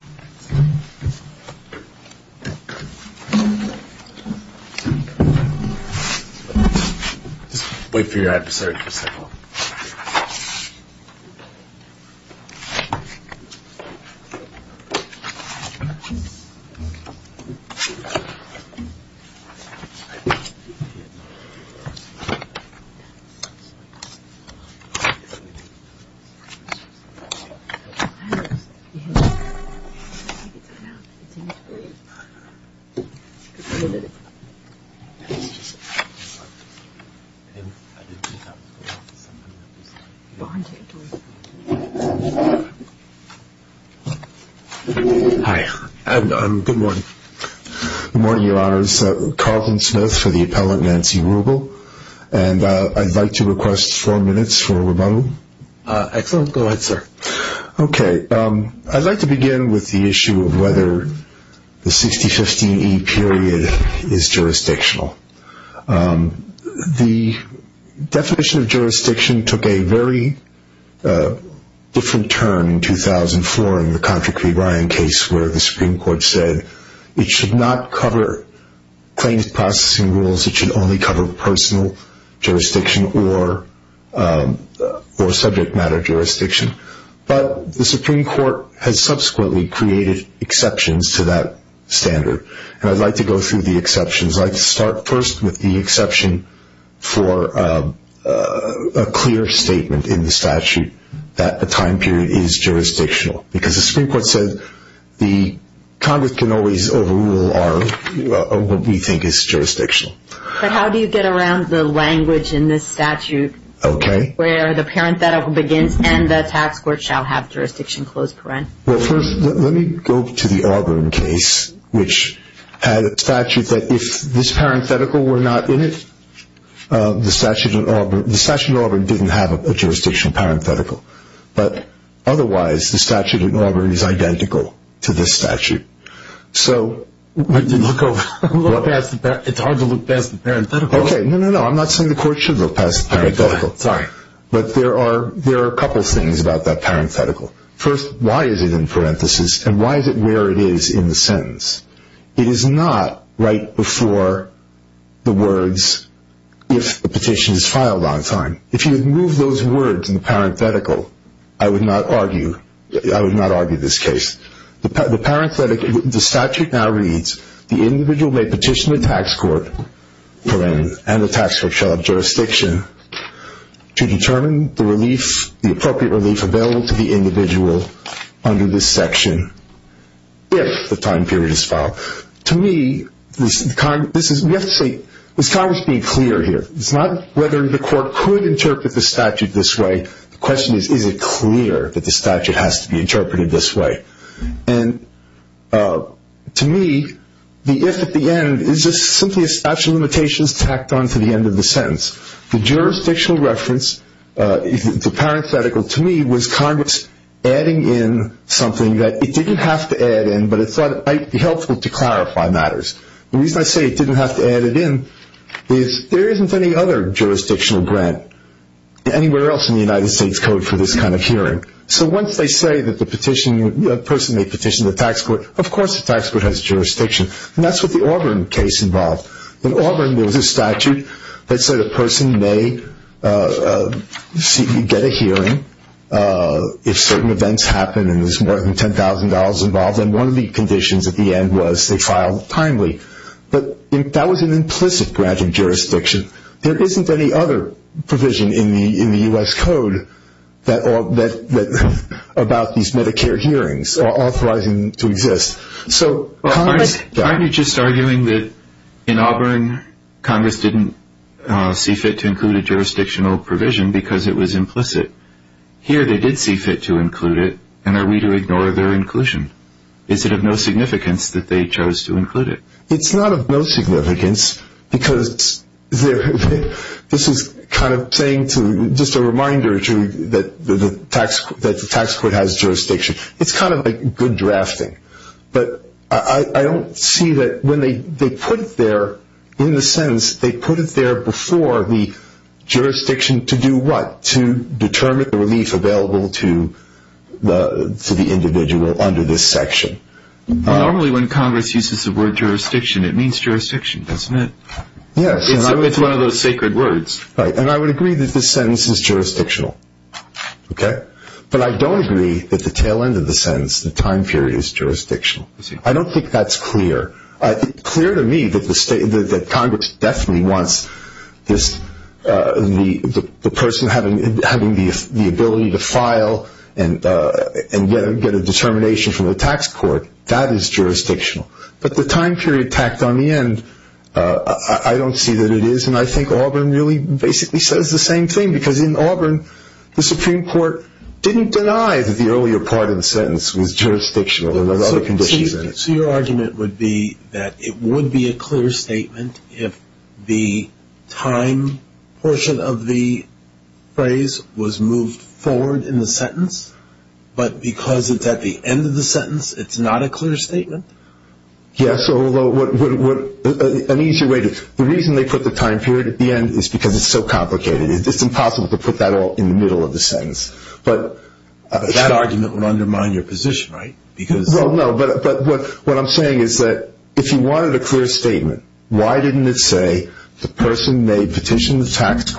Just wait for your adversaries to step up. Hi. Good morning. Good morning, Your Honors. Carlton Smith for the appellant Nancy Rubel. And I'd like to request four minutes for rebuttal. Excellent. Go ahead, sir. Okay. I'd like to begin with the issue of whether the 6015E period is jurisdictional. The definition of jurisdiction took a very different turn in 2004 in the Contra Cri Brian case where the Supreme Court said it should not cover claims processing rules, it should only cover personal jurisdiction or subject matter jurisdiction. But the Supreme Court has subsequently created exceptions to that standard. And I'd like to go through the exceptions. I'd like to start first with the exception for a clear statement in the statute that the time period is jurisdictional because the Supreme Court said the Congress can always overrule what we think is jurisdictional. But how do you get around the language in this statute where the parenthetical begins and the tax court shall have jurisdiction close parent? Well, first let me go to the Auburn case which had a statute that if this parenthetical were not in it, the statute in Auburn didn't have a jurisdictional parenthetical. But otherwise the statute in Auburn is identical to this statute. So... It's hard to look past the parenthetical. Okay. No, no, no. I'm not saying the court should look past the parenthetical. Sorry. But there are a couple of things about that parenthetical. First, why is it in parentheses and why is it where it is in the sentence? It is not right before the words if the petition is filed on time. If you had moved those words in the parenthetical, I would not argue this case. The statute now reads, the individual may petition the tax court and the tax court shall have jurisdiction to determine the appropriate relief available to the individual under this section if the time period is filed. To me, we have to say, is Congress being clear here? It's not whether the court could interpret the statute this way. The question is, is it clear that the statute has to be interpreted this way? And to me, the if at the end is just simply a statute of limitations tacked on to the end of the sentence. The jurisdictional reference, the parenthetical, to me, was Congress adding in something that it didn't have to add in, but it thought it might be helpful to clarify matters. The reason I say it didn't have to add it in is there isn't any other jurisdictional grant anywhere else in the United States Code for this kind of hearing. So once they say that the person may petition the tax court, of course the tax court has jurisdiction. And that's what the Auburn case involved. In Auburn, there was a statute that said a person may get a hearing if certain events happen and there's more than $10,000 involved. And one of the conditions at the end was they filed timely. But that was an implicit grant of jurisdiction. There isn't any other provision in the U.S. Code about these Medicare hearings authorizing them to exist. Aren't you just arguing that in Auburn, Congress didn't see fit to include a jurisdictional provision because it was implicit? Here they did see fit to include it, and are we to ignore their inclusion? Is it of no significance that they chose to include it? It's not of no significance because this is kind of saying to just a reminder that the tax court has jurisdiction. It's kind of like good drafting. But I don't see that when they put it there, in the sense they put it there before the jurisdiction to do what? To determine the relief available to the individual under this section. Normally when Congress uses the word jurisdiction, it means jurisdiction, doesn't it? Yes. It's one of those sacred words. Right. And I would agree that this sentence is jurisdictional. Okay? But I don't agree that the tail end of the sentence, the time period, is jurisdictional. I don't think that's clear. It's clear to me that Congress definitely wants the person having the ability to file and get a determination from the tax court, that is jurisdictional. But the time period tacked on the end, I don't see that it is, and I think Auburn really basically says the same thing because in Auburn, the Supreme Court didn't deny that the earlier part of the sentence was jurisdictional and there were other conditions in it. So your argument would be that it would be a clear statement if the time portion of the phrase was moved forward in the sentence, but because it's at the end of the sentence, it's not a clear statement? Yes. An easier way to, the reason they put the time period at the end is because it's so complicated. It's just impossible to put that all in the middle of the sentence. But that argument would undermine your position, right? Well, no, but what I'm saying is that if you wanted a clear statement, why didn't it say the person may petition the tax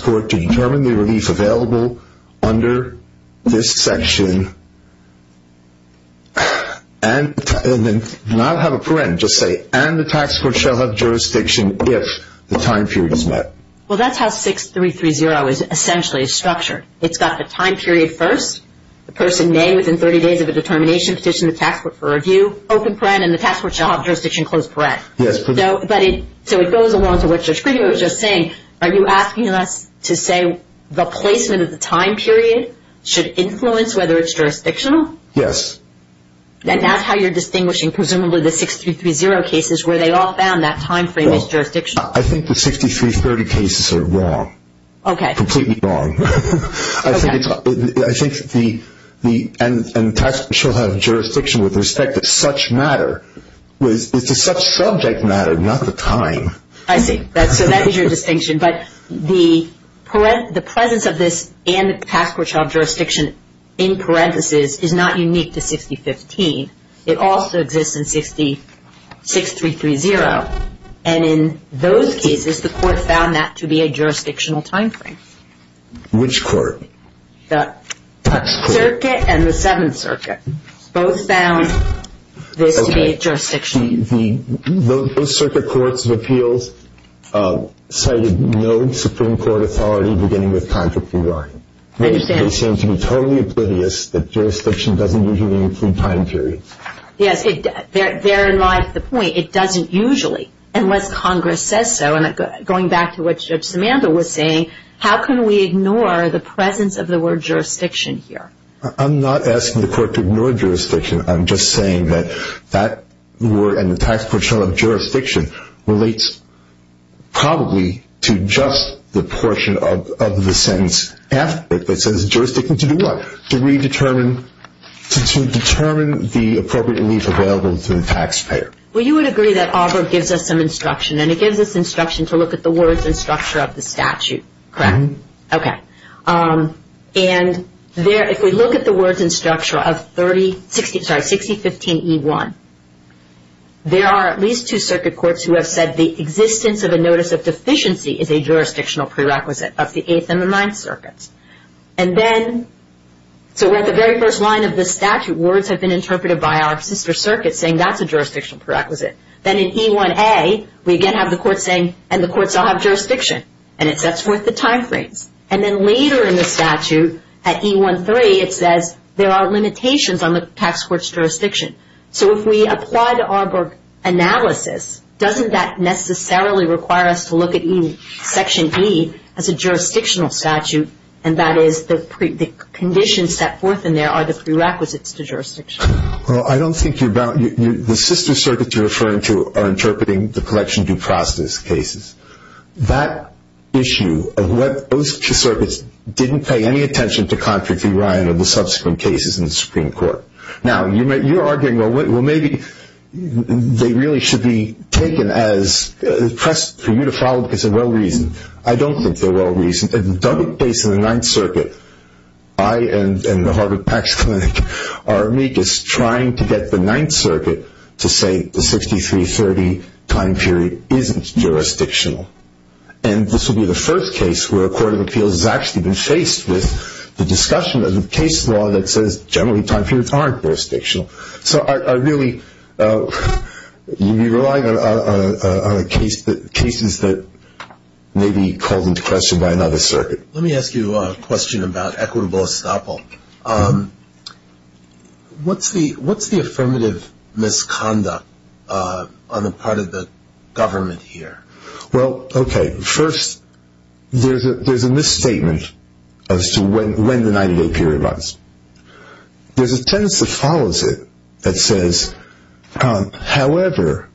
court to determine the relief available under this section and not have a parent, just say, and the tax court shall have jurisdiction if the time period is met. Well, that's how 6330 is essentially structured. It's got the time period first. The person may, within 30 days of a determination, petition the tax court for review, open parent, and the tax court shall have jurisdiction closed parent. Yes. So it goes along to what Judge Greenberg was just saying. Are you asking us to say the placement of the time period should influence whether it's jurisdictional? Yes. And that's how you're distinguishing presumably the 6330 cases where they all found that time frame is jurisdictional? I think the 6330 cases are wrong. Okay. Completely wrong. Okay. I think the, and the tax court shall have jurisdiction with respect to such matter. It's the subject matter, not the time. I see. So that is your distinction. But the presence of this and the tax court shall have jurisdiction in parentheses is not unique to 6015. It also exists in 6330. And in those cases, the court found that to be a jurisdictional time frame. Which court? The circuit and the Seventh Circuit. Both found this to be jurisdictional. Okay. The Circuit Courts of Appeals cited no Supreme Court authority beginning with Contract 1. I understand. They seem to be totally oblivious that jurisdiction doesn't usually include time period. Yes. They're in line with the point. It doesn't usually unless Congress says so. And going back to what Judge Samantha was saying, how can we ignore the presence of the word jurisdiction here? I'm not asking the court to ignore jurisdiction. I'm just saying that that word and the tax court shall have jurisdiction relates probably to just the portion of the sentence. It says jurisdiction to do what? To determine the appropriate relief available to the taxpayer. Well, you would agree that Auberg gives us some instruction, and it gives us instruction to look at the words and structure of the statute, correct? Okay. And if we look at the words and structure of 6015E1, there are at least two circuit courts who have said the existence of a notice of deficiency is a jurisdictional prerequisite of the Eighth and the Ninth Circuits. And then, so we're at the very first line of the statute. Words have been interpreted by our sister circuit saying that's a jurisdictional prerequisite. Then in E1a, we again have the court saying, and the courts shall have jurisdiction, and it sets forth the time frames. And then later in the statute, at E13, it says there are limitations on the tax court's jurisdiction. So if we apply the Auberg analysis, doesn't that necessarily require us to look at Section E as a jurisdictional statute, and that is the conditions set forth in there are the prerequisites to jurisdiction? Well, I don't think you're bound. The sister circuits you're referring to are interpreting the collection due process cases. That issue of what those circuits didn't pay any attention to contrary to Ryan or the subsequent cases in the Supreme Court. Now, you're arguing, well, maybe they really should be taken as pressed for you to follow because they're well-reasoned. I don't think they're well-reasoned. And double-based on the Ninth Circuit, I and the Harvard PACS Clinic are amicus trying to get the Ninth Circuit to say the 6330 time period isn't jurisdictional. And this will be the first case where a court of appeals has actually been faced with the discussion of the case law that says generally time periods aren't jurisdictional. So I really would be relying on cases that may be called into question by another circuit. Let me ask you a question about equitable estoppel. What's the affirmative misconduct on the part of the government here? Well, okay, first, there's a misstatement as to when the 98 period runs. There's a sentence that follows it that says, however,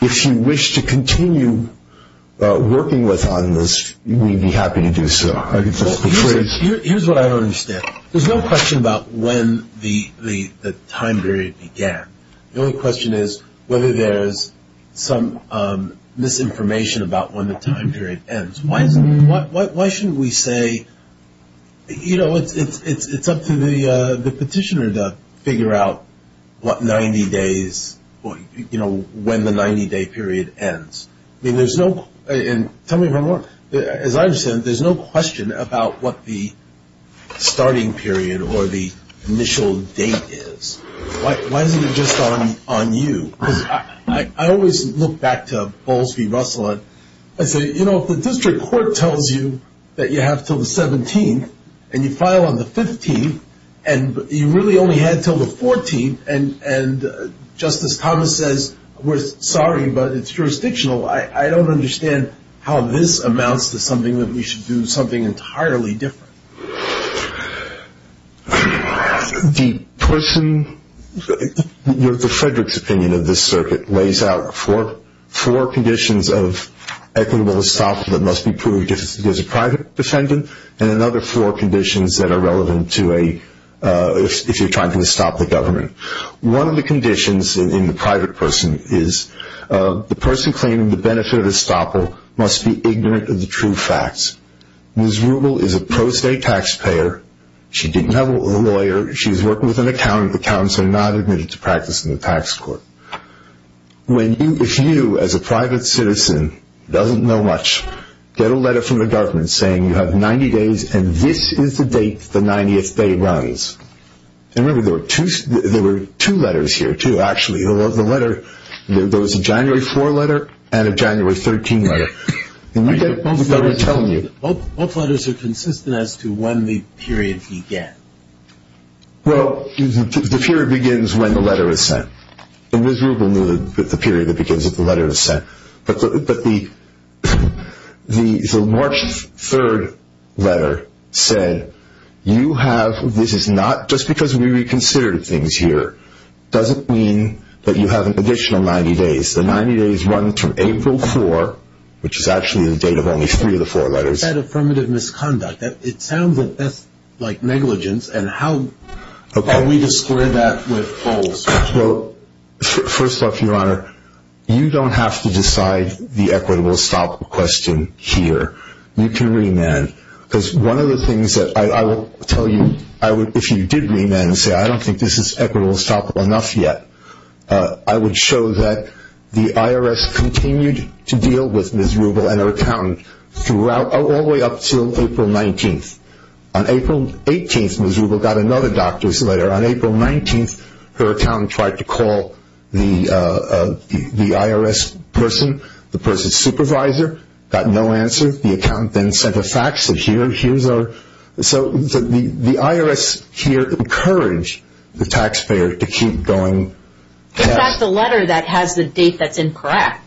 if you wish to continue working with us on this, we'd be happy to do so. Here's what I don't understand. There's no question about when the time period began. The only question is whether there's some misinformation about when the time period ends. Why shouldn't we say, you know, it's up to the petitioner to figure out what 90 days or, you know, when the 90-day period ends. I mean, there's no – and tell me if I'm wrong. As I understand it, there's no question about what the starting period or the initial date is. Why isn't it just on you? Because I always look back to Bowles v. Russell and say, you know, if the district court tells you that you have until the 17th and you file on the 15th and you really only had until the 14th and Justice Thomas says, sorry, but it's jurisdictional, I don't understand how this amounts to something that we should do something entirely different. The person – the Frederick's opinion of this circuit lays out four conditions of equitable estoppel that must be proved if there's a private defendant and another four conditions that are relevant to a – if you're trying to estoppel the government. One of the conditions in the private person is the person claiming the benefit of estoppel must be ignorant of the true facts. Ms. Rubel is a pro-state taxpayer. She didn't have a lawyer. She was working with an accountant. The accountant said not admitted to practice in the tax court. When you – if you as a private citizen doesn't know much, get a letter from the government saying you have 90 days and this is the date the 90th day runs. And remember, there were two letters here, too, actually. The letter – there was a January 4 letter and a January 13 letter. And you get both letters telling you. Both letters are consistent as to when the period began. Well, the period begins when the letter is sent. And Ms. Rubel knew the period that begins when the letter is sent. But the March 3 letter said you have – this is not – just because we reconsidered things here doesn't mean that you have an additional 90 days. The 90 days run from April 4, which is actually the date of only three of the four letters. That affirmative misconduct, it sounds like negligence. And how are we to square that with false? Well, first off, Your Honor, you don't have to decide the equitable estoppel question here. You can remand. Because one of the things that I will tell you if you did remand and say I don't think this is equitable estoppel enough yet, I would show that the IRS continued to deal with Ms. Rubel and her accountant all the way up until April 19th. On April 18th, Ms. Rubel got another doctor's letter. On April 19th, her accountant tried to call the IRS person, the person's supervisor. Got no answer. The accountant then sent a fax that here's our – So the IRS here encouraged the taxpayer to keep going. In fact, the letter that has the date that's incorrect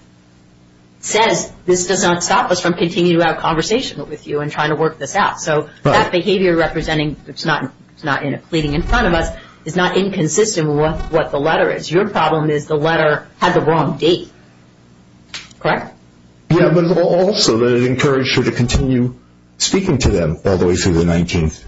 says this does not stop us from continuing to have a conversation with you and trying to work this out. So that behavior representing it's not pleading in front of us is not inconsistent with what the letter is. Your problem is the letter had the wrong date. Correct? Yeah, but also that it encouraged her to continue speaking to them all the way through the 19th.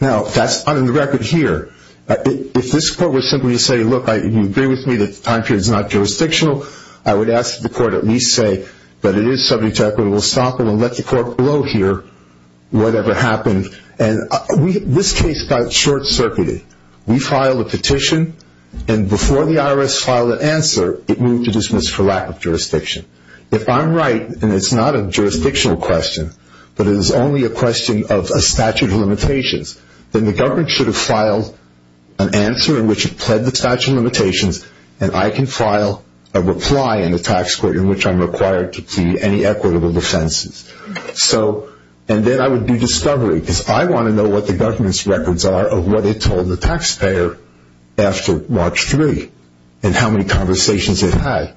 Now, that's on the record here. If this court were simply to say, look, you agree with me that the time period is not jurisdictional, I would ask that the court at least say that it is subject to equitable estoppel and let the court blow here whatever happened. And this case got short-circuited. We filed a petition, and before the IRS filed an answer, it moved to dismiss for lack of jurisdiction. If I'm right and it's not a jurisdictional question, but it is only a question of a statute of limitations, then the government should have filed an answer in which it pled the statute of limitations and I can file a reply in the tax court in which I'm required to plead any equitable defenses. And then I would do discovery because I want to know what the government's records are of what it told the taxpayer after March 3 and how many conversations it had.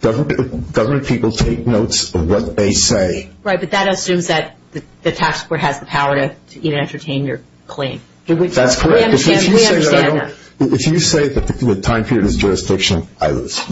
Government people take notes of what they say. Right, but that assumes that the tax court has the power to entertain your claim. That's correct. We understand that. If you say that the time period is jurisdictional, I lose.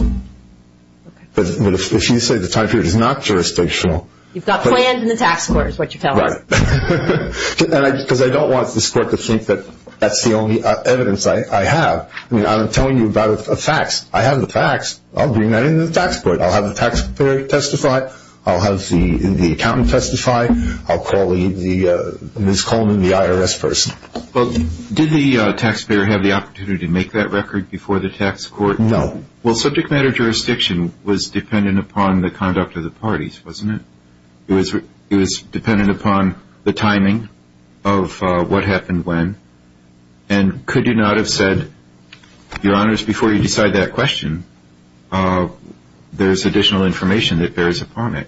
But if you say the time period is not jurisdictional. You've got planned in the tax court is what you're telling us. Right. Because I don't want this court to think that that's the only evidence I have. I mean, I'm telling you about a fax. I have the fax. I'll bring that into the tax court. I'll have the taxpayer testify. I'll have the accountant testify. I'll call the Ms. Coleman, the IRS person. Well, did the taxpayer have the opportunity to make that record before the tax court? No. Well, subject matter jurisdiction was dependent upon the conduct of the parties, wasn't it? It was dependent upon the timing of what happened when. And could you not have said, Your Honors, before you decide that question, there's additional information that bears upon it?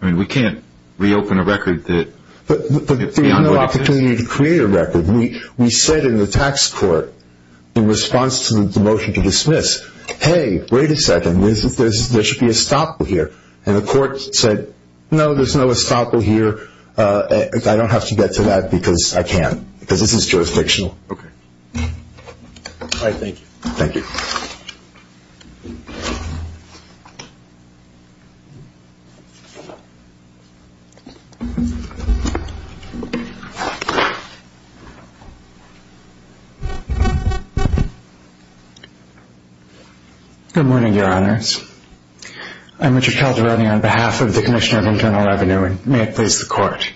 I mean, we can't reopen a record that is beyond what it says. But there's no opportunity to create a record. We said in the tax court in response to the motion to dismiss, hey, wait a second. There should be a stop here. And the court said, no, there's no stop here. I don't have to get to that because I can't because this is jurisdictional. Okay. All right. Thank you. Thank you. Good morning, Your Honors. I'm Richard Calderone on behalf of the Commissioner of Internal Revenue. And may it please the court.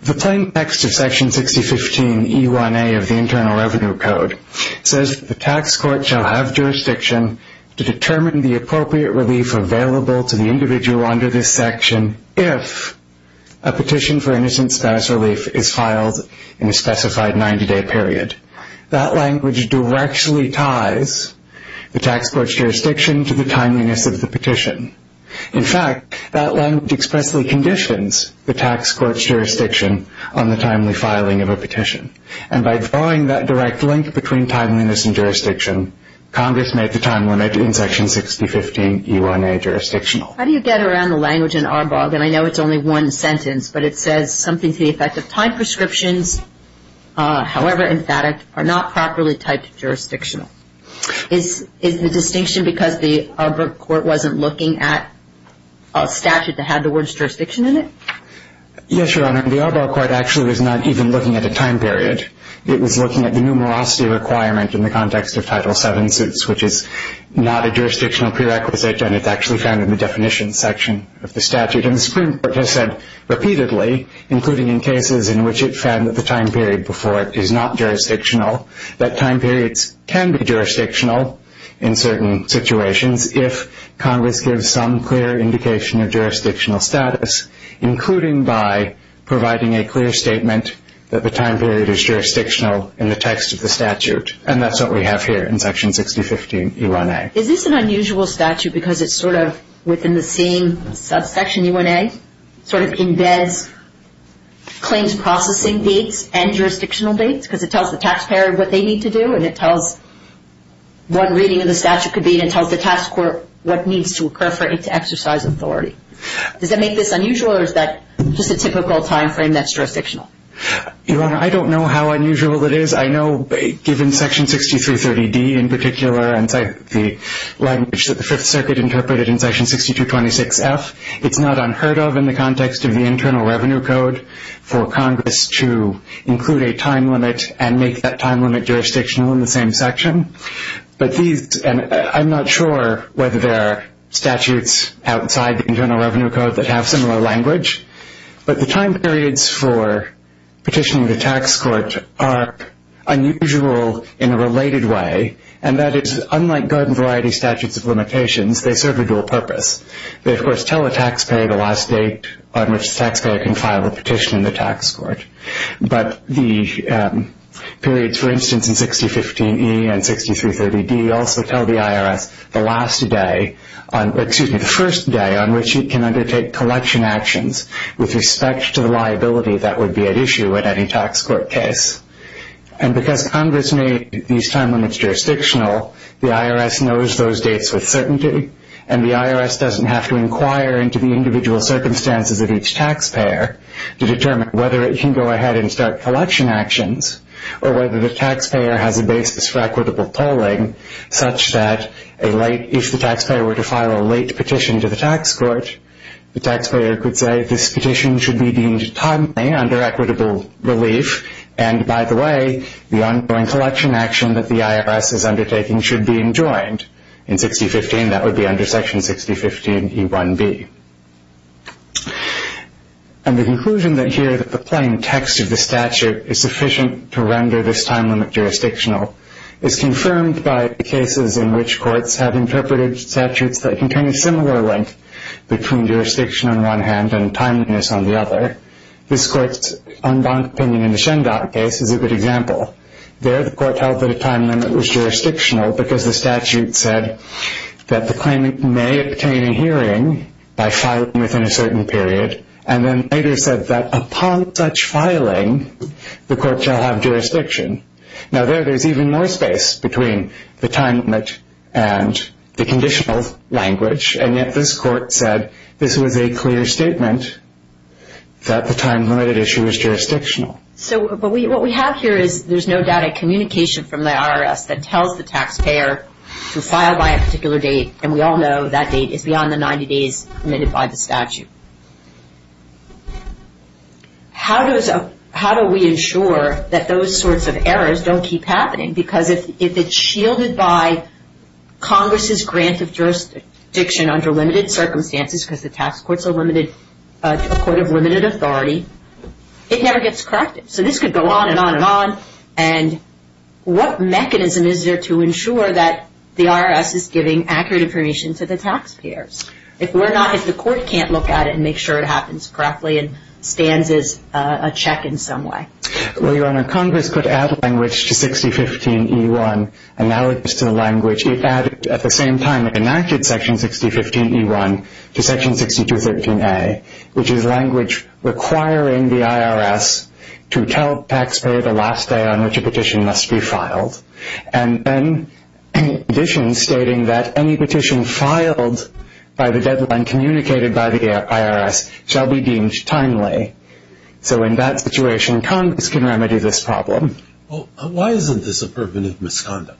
The plain text of Section 6015E1A of the Internal Revenue Code says the tax court shall have jurisdiction to determine the appropriate relief available to the individual under this section if a petition for innocent status relief is filed in a specified 90-day period. That language directly ties the tax court's jurisdiction to the timeliness of the petition. In fact, that language expressly conditions the tax court's jurisdiction on the timely filing of a petition. And by drawing that direct link between timeliness and jurisdiction, Congress made the time limit in Section 6015E1A jurisdictional. How do you get around the language in ARBOG? And I know it's only one sentence, but it says something to the effect of time prescriptions, however emphatic, are not properly typed jurisdictional. Is the distinction because the ARBOG court wasn't looking at a statute that had the words jurisdiction in it? Yes, Your Honor. The ARBOG court actually was not even looking at a time period. It was looking at the numerosity requirement in the context of Title VII suits, which is not a jurisdictional prerequisite, and it's actually found in the definition section of the statute. And the Supreme Court has said repeatedly, including in cases in which it found that the time period before it is not jurisdictional, that time periods can be jurisdictional in certain situations if Congress gives some clear indication of jurisdictional status, including by providing a clear statement that the time period is jurisdictional in the text of the statute. And that's what we have here in Section 6015 E1A. Is this an unusual statute because it's sort of within the same subsection, E1A, sort of embeds claims processing dates and jurisdictional dates because it tells the taxpayer what they need to do and it tells what reading of the statute could be and it tells the tax court what needs to occur for it to exercise authority. Does that make this unusual or is that just a typical time frame that's jurisdictional? Your Honor, I don't know how unusual it is. I know given Section 6330 D in particular and the language that the Fifth Circuit interpreted in Section 6226 F, it's not unheard of in the context of the Internal Revenue Code for Congress to include a time limit and make that time limit jurisdictional in the same section. But these, and I'm not sure whether there are statutes outside the Internal Revenue Code that have similar language, but the time periods for petitioning the tax court are unusual in a related way and that is unlike garden variety statutes of limitations, they serve a dual purpose. They, of course, tell the taxpayer the last date on which the taxpayer can file a petition in the tax court. But the periods, for instance, in 6015 E and 6330 D also tell the IRS the last day, excuse me, the first day on which it can undertake collection actions with respect to the liability that would be at issue at any tax court case. And because Congress made these time limits jurisdictional, the IRS knows those dates with certainty and the IRS doesn't have to inquire into the individual circumstances of each taxpayer to determine whether it can go ahead and start collection actions or whether the taxpayer has a basis for equitable polling such that if the taxpayer were to file a late petition to the tax court, the taxpayer could say this petition should be deemed timely under equitable relief and, by the way, the ongoing collection action that the IRS is undertaking should be enjoined. In 6015, that would be under section 6015 E1B. And the conclusion here that the plain text of the statute is sufficient to render this time limit jurisdictional is confirmed by cases in which courts have interpreted statutes that contain a similar link between jurisdiction on one hand and timeliness on the other. This court's Undonk opinion in the Schendonk case is a good example. There, the court held that a time limit was jurisdictional because the statute said that the claimant may obtain a hearing by filing within a certain period and then later said that upon such filing, the court shall have jurisdiction. Now, there, there's even more space between the time limit and the conditional language, and yet this court said this was a clear statement that the time limit issue was jurisdictional. So what we have here is there's no data communication from the IRS that tells the taxpayer to file by a particular date, and we all know that date is beyond the 90 days committed by the statute. How do we ensure that those sorts of errors don't keep happening? Because if it's shielded by Congress's grant of jurisdiction under limited circumstances because the tax court's a limited court of limited authority, it never gets corrected. So this could go on and on and on, and what mechanism is there to ensure that the IRS is giving accurate information to the taxpayers? If we're not, if the court can't look at it and make sure it happens correctly and stands as a check in some way? Well, Your Honor, Congress could add language to 6015E1 analogous to the language it added at the same time it enacted section 6015E1 to section 6213A, which is language requiring the IRS to tell the taxpayer the last day on which a petition must be filed, and then in addition stating that any petition filed by the deadline communicated by the IRS shall be deemed timely. So in that situation, Congress can remedy this problem. Well, why isn't this affirmative misconduct?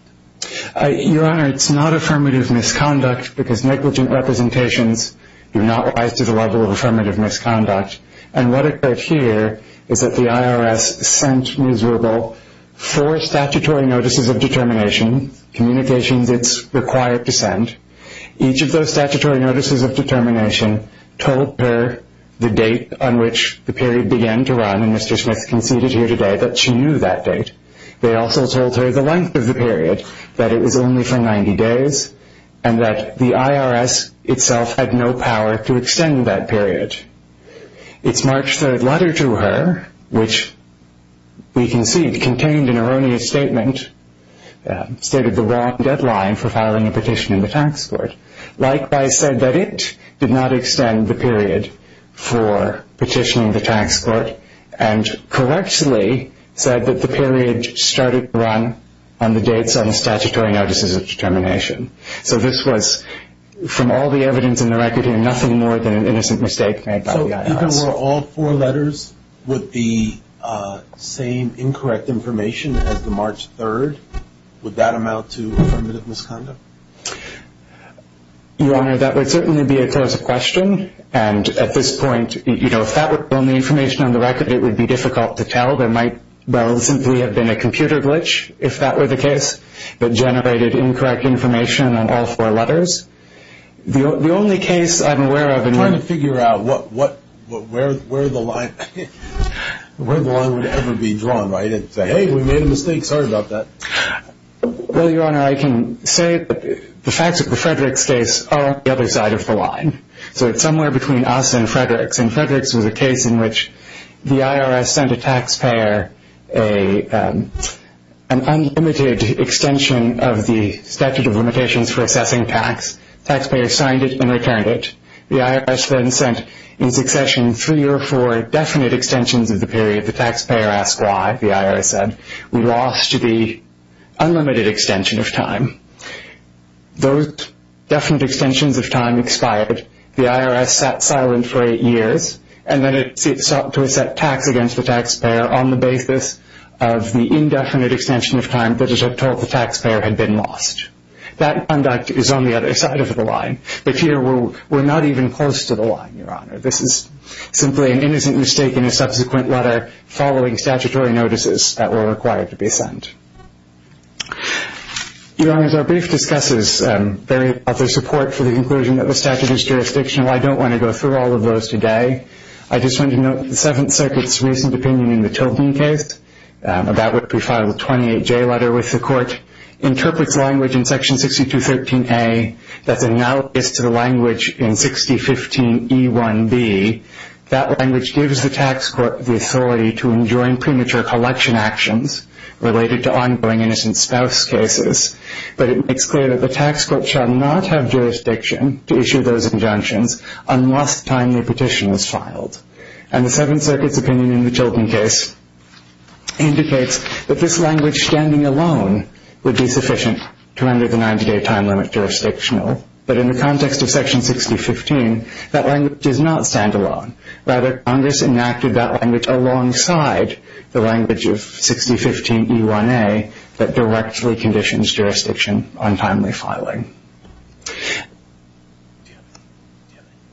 Your Honor, it's not affirmative misconduct because negligent representations do not rise to the level of affirmative misconduct, and what occurred here is that the IRS sent Ms. Rubel four statutory notices of determination, communications it's required to send. Each of those statutory notices of determination told her the date on which the period began to run, and Mr. Smith conceded here today that she knew that date. They also told her the length of the period, that it was only for 90 days, and that the IRS itself had no power to extend that period. Its March 3rd letter to her, which we concede contained an erroneous statement, stated the wrong deadline for filing a petition in the tax court. Likewise said that it did not extend the period for petitioning the tax court and correctly said that the period started to run on the dates on the statutory notices of determination. So this was, from all the evidence in the record here, nothing more than an innocent mistake made by the IRS. So even were all four letters with the same incorrect information as the March 3rd, would that amount to affirmative misconduct? Your Honor, that would certainly be a closer question, and at this point, you know, if that were the only information on the record, it would be difficult to tell. There might well simply have been a computer glitch, if that were the case, that generated incorrect information on all four letters. The only case I'm aware of in which- I'm trying to figure out where the line would ever be drawn, right? And say, hey, we made a mistake, sorry about that. Well, Your Honor, I can say that the facts of the Fredericks case are on the other side of the line. So it's somewhere between us and Fredericks, and Fredericks was a case in which the IRS sent a taxpayer an unlimited extension of the statute of limitations for assessing tax. Taxpayers signed it and returned it. The IRS then sent, in succession, three or four definite extensions of the period. The taxpayer asked why, the IRS said. We lost the unlimited extension of time. Those definite extensions of time expired. The IRS sat silent for eight years, and then it sought to asset tax against the taxpayer on the basis of the indefinite extension of time that it had told the taxpayer had been lost. That conduct is on the other side of the line, but here we're not even close to the line, Your Honor. This is simply an innocent mistake in a subsequent letter following statutory notices that were required to be sent. Your Honor, as our brief discusses, there is other support for the conclusion that the statute is jurisdictional. I don't want to go through all of those today. I just want to note that the Seventh Circuit's recent opinion in the Tilton case, about which we filed a 28-J letter with the court, interprets language in Section 6213A that's analogous to the language in 6015E1B. That language gives the tax court the authority to enjoin premature collection actions related to ongoing innocent spouse cases, but it makes clear that the tax court shall not have jurisdiction to issue those injunctions unless a timely petition is filed. And the Seventh Circuit's opinion in the Tilton case indicates that this language standing alone would be sufficient to render the 90-day time limit jurisdictional. But in the context of Section 6015, that language is not stand-alone. Rather, Congress enacted that language alongside the language of 6015E1A that directly conditions jurisdiction on timely filing.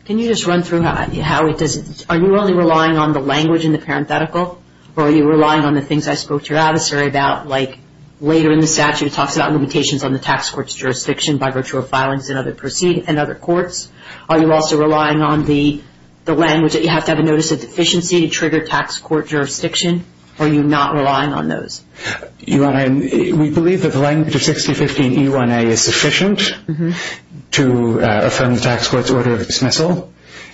Can you just run through how it does it? Are you only relying on the language in the parenthetical, or are you relying on the things I spoke to your adversary about, like later in the statute it talks about limitations on the tax court's jurisdiction by virtue of filings and other courts? Are you also relying on the language that you have to have a notice of deficiency to trigger tax court jurisdiction? Are you not relying on those? Your Honor, we believe that the language of 6015E1A is sufficient to affirm the tax court's order of dismissal.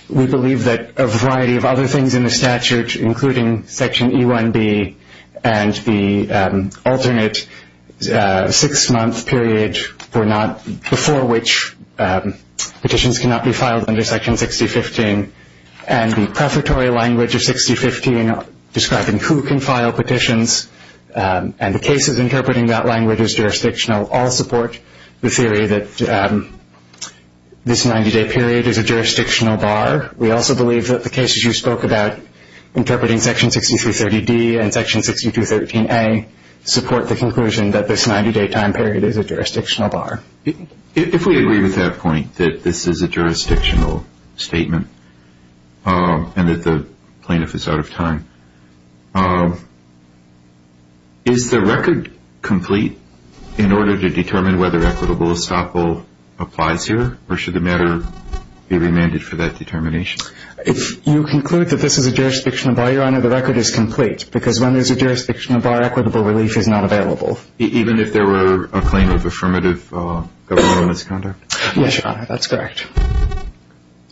We believe that a variety of other things in the statute, including Section E1B and the alternate six-month period before which petitions cannot be filed under Section 6015, and the prefatory language of 6015 describing who can file petitions and the cases interpreting that language as jurisdictional, all support the theory that this 90-day period is a jurisdictional bar. We also believe that the cases you spoke about, interpreting Section 6330D and Section 6213A, support the conclusion that this 90-day time period is a jurisdictional bar. If we agree with that point, that this is a jurisdictional statement and that the plaintiff is out of time, is the record complete in order to determine whether equitable estoppel applies here, or should the matter be remanded for that determination? If you conclude that this is a jurisdictional bar, Your Honor, the record is complete, because when there's a jurisdictional bar, equitable relief is not available. Even if there were a claim of affirmative governmental misconduct? Yes, Your Honor, that's correct.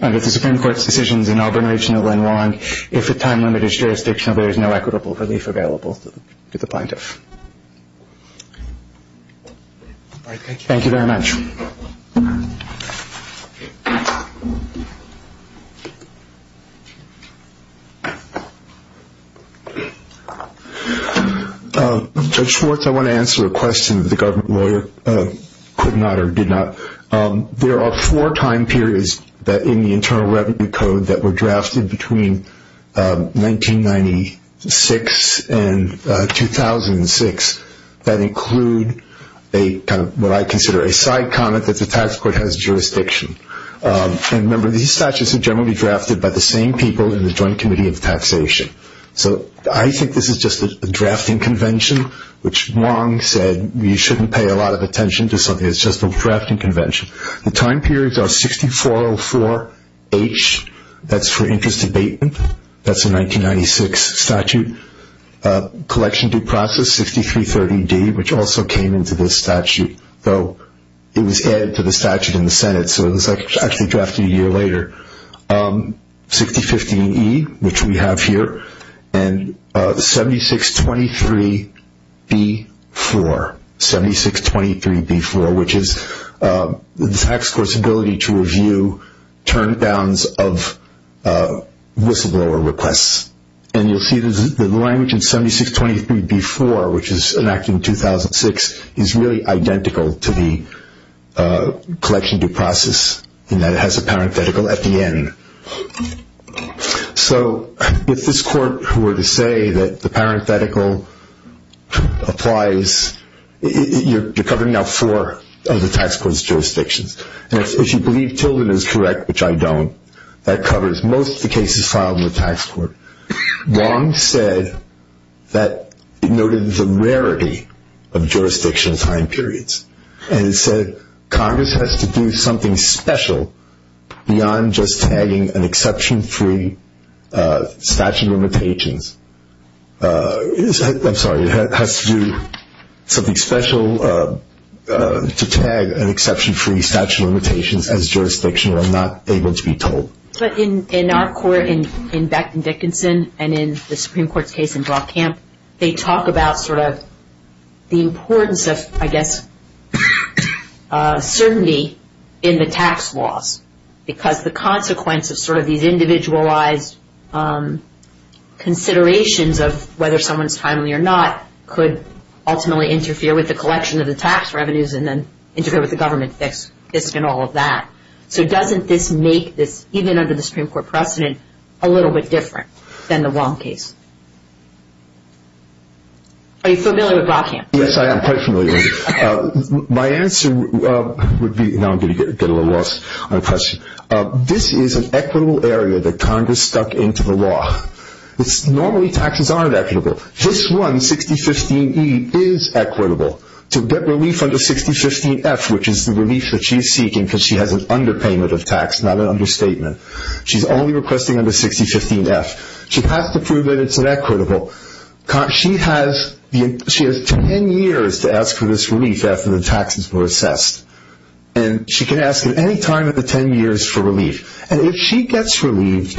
Under the Supreme Court's decisions in Auburn Regional and Long, if a time limit is jurisdictional, there is no equitable relief available to the plaintiff. Thank you very much. Judge Schwartz, I want to answer a question that the government lawyer could not or did not. There are four time periods in the Internal Revenue Code that were drafted between 1996 and 2006 that include what I consider a side comment that the tax court has jurisdiction. And remember, these statutes are generally drafted by the same people in the Joint Committee of Taxation. So I think this is just a drafting convention, which Wong said, you shouldn't pay a lot of attention to something that's just a drafting convention. The time periods are 6404H, that's for interest abatement, that's a 1996 statute, collection due process 6330D, which also came into this statute, though it was added to the statute in the Senate, so it was actually drafted a year later, 6015E, which we have here, and 7623B4, 7623B4, which is the tax court's ability to review turn downs of whistleblower requests. And you'll see the language in 7623B4, which was enacted in 2006, is really identical to the collection due process in that it has a parenthetical at the end. So if this court were to say that the parenthetical applies, you're covering now four of the tax court's jurisdictions. And if you believe Tilden is correct, which I don't, that covers most of the cases filed in the tax court. Wong said that it noted the rarity of jurisdiction time periods, and it said Congress has to do something special beyond just tagging an exception-free statute of limitations. I'm sorry, it has to do something special to tag an exception-free statute of limitations as jurisdictional and not able to be told. But in our court, in Beck and Dickinson, and in the Supreme Court's case in Brockamp, they talk about sort of the importance of, I guess, certainty in the tax laws, because the consequence of sort of these individualized considerations of whether someone's timely or not could ultimately interfere with the collection of the tax revenues and then interfere with the government fisc and all of that. So doesn't this make this, even under the Supreme Court precedent, a little bit different than the Wong case? Are you familiar with Brockamp? Yes, I am quite familiar. My answer would be, now I'm going to get a little lost on the question. This is an equitable area that Congress stuck into the law. Normally taxes aren't equitable. This one, 6015E, is equitable to get relief under 6015F, which is the relief that she's seeking because she has an underpayment of tax, not an understatement. She's only requesting under 6015F. She has to prove that it's inequitable. She has ten years to ask for this relief after the taxes were assessed, and she can ask at any time of the ten years for relief. And if she gets relieved,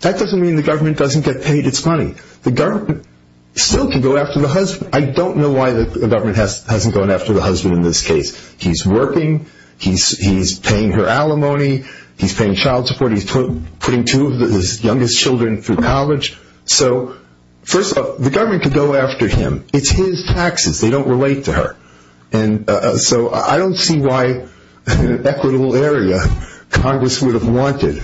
that doesn't mean the government doesn't get paid its money. The government still can go after the husband. I don't know why the government hasn't gone after the husband in this case. He's working. He's paying her alimony. He's paying child support. He's putting two of his youngest children through college. So first off, the government could go after him. It's his taxes. They don't relate to her. And so I don't see why, in an equitable area, Congress would have wanted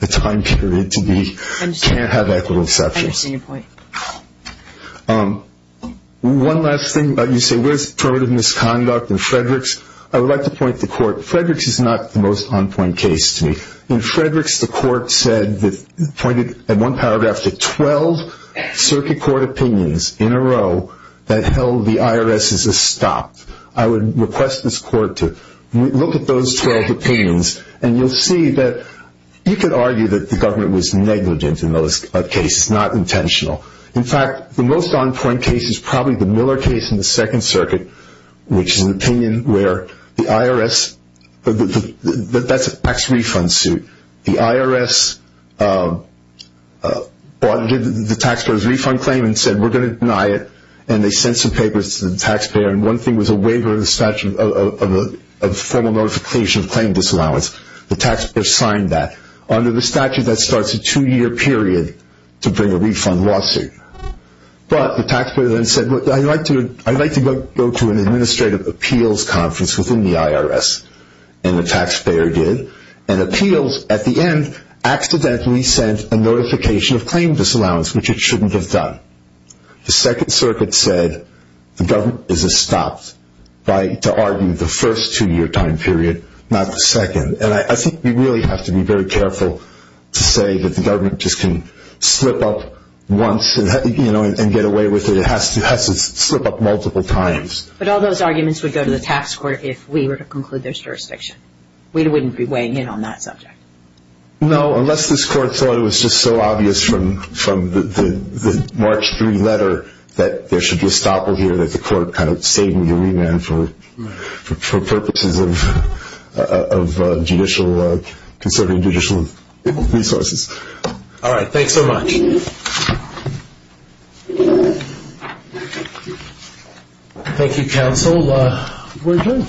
the time period to be, can't have equitable exceptions. I understand your point. One last thing. You say, where's primitive misconduct in Frederick's? I would like to point to court. Frederick's is not the most on-point case to me. In Frederick's, the court said, pointed at one paragraph, to 12 circuit court opinions in a row that held the IRS is a stop. I would request this court to look at those 12 opinions, and you'll see that you could argue that the government was negligent in those cases, not intentional. In fact, the most on-point case is probably the Miller case in the Second Circuit, which is an opinion where the IRS, that's a tax refund suit. The IRS did the taxpayer's refund claim and said, we're going to deny it, and they sent some papers to the taxpayer. And one thing was a waiver of the statute of formal notification of claim disallowance. The taxpayer signed that. Under the statute, that starts a two-year period to bring a refund lawsuit. But the taxpayer then said, I'd like to go to an administrative appeals conference within the IRS. And the taxpayer did. And appeals, at the end, accidentally sent a notification of claim disallowance, which it shouldn't have done. The Second Circuit said the government is a stop to argue the first two-year time period, not the second. And I think we really have to be very careful to say that the government just can slip up once and get away with it. It has to slip up multiple times. But all those arguments would go to the tax court if we were to conclude there's jurisdiction. We wouldn't be weighing in on that subject. No, unless this court thought it was just so obvious from the March 3 letter that there should be a stop over here, that the court kind of saved me a remand for purposes of judicial, conserving judicial resources. All right. Thanks so much. Thank you, counsel. We're adjourned.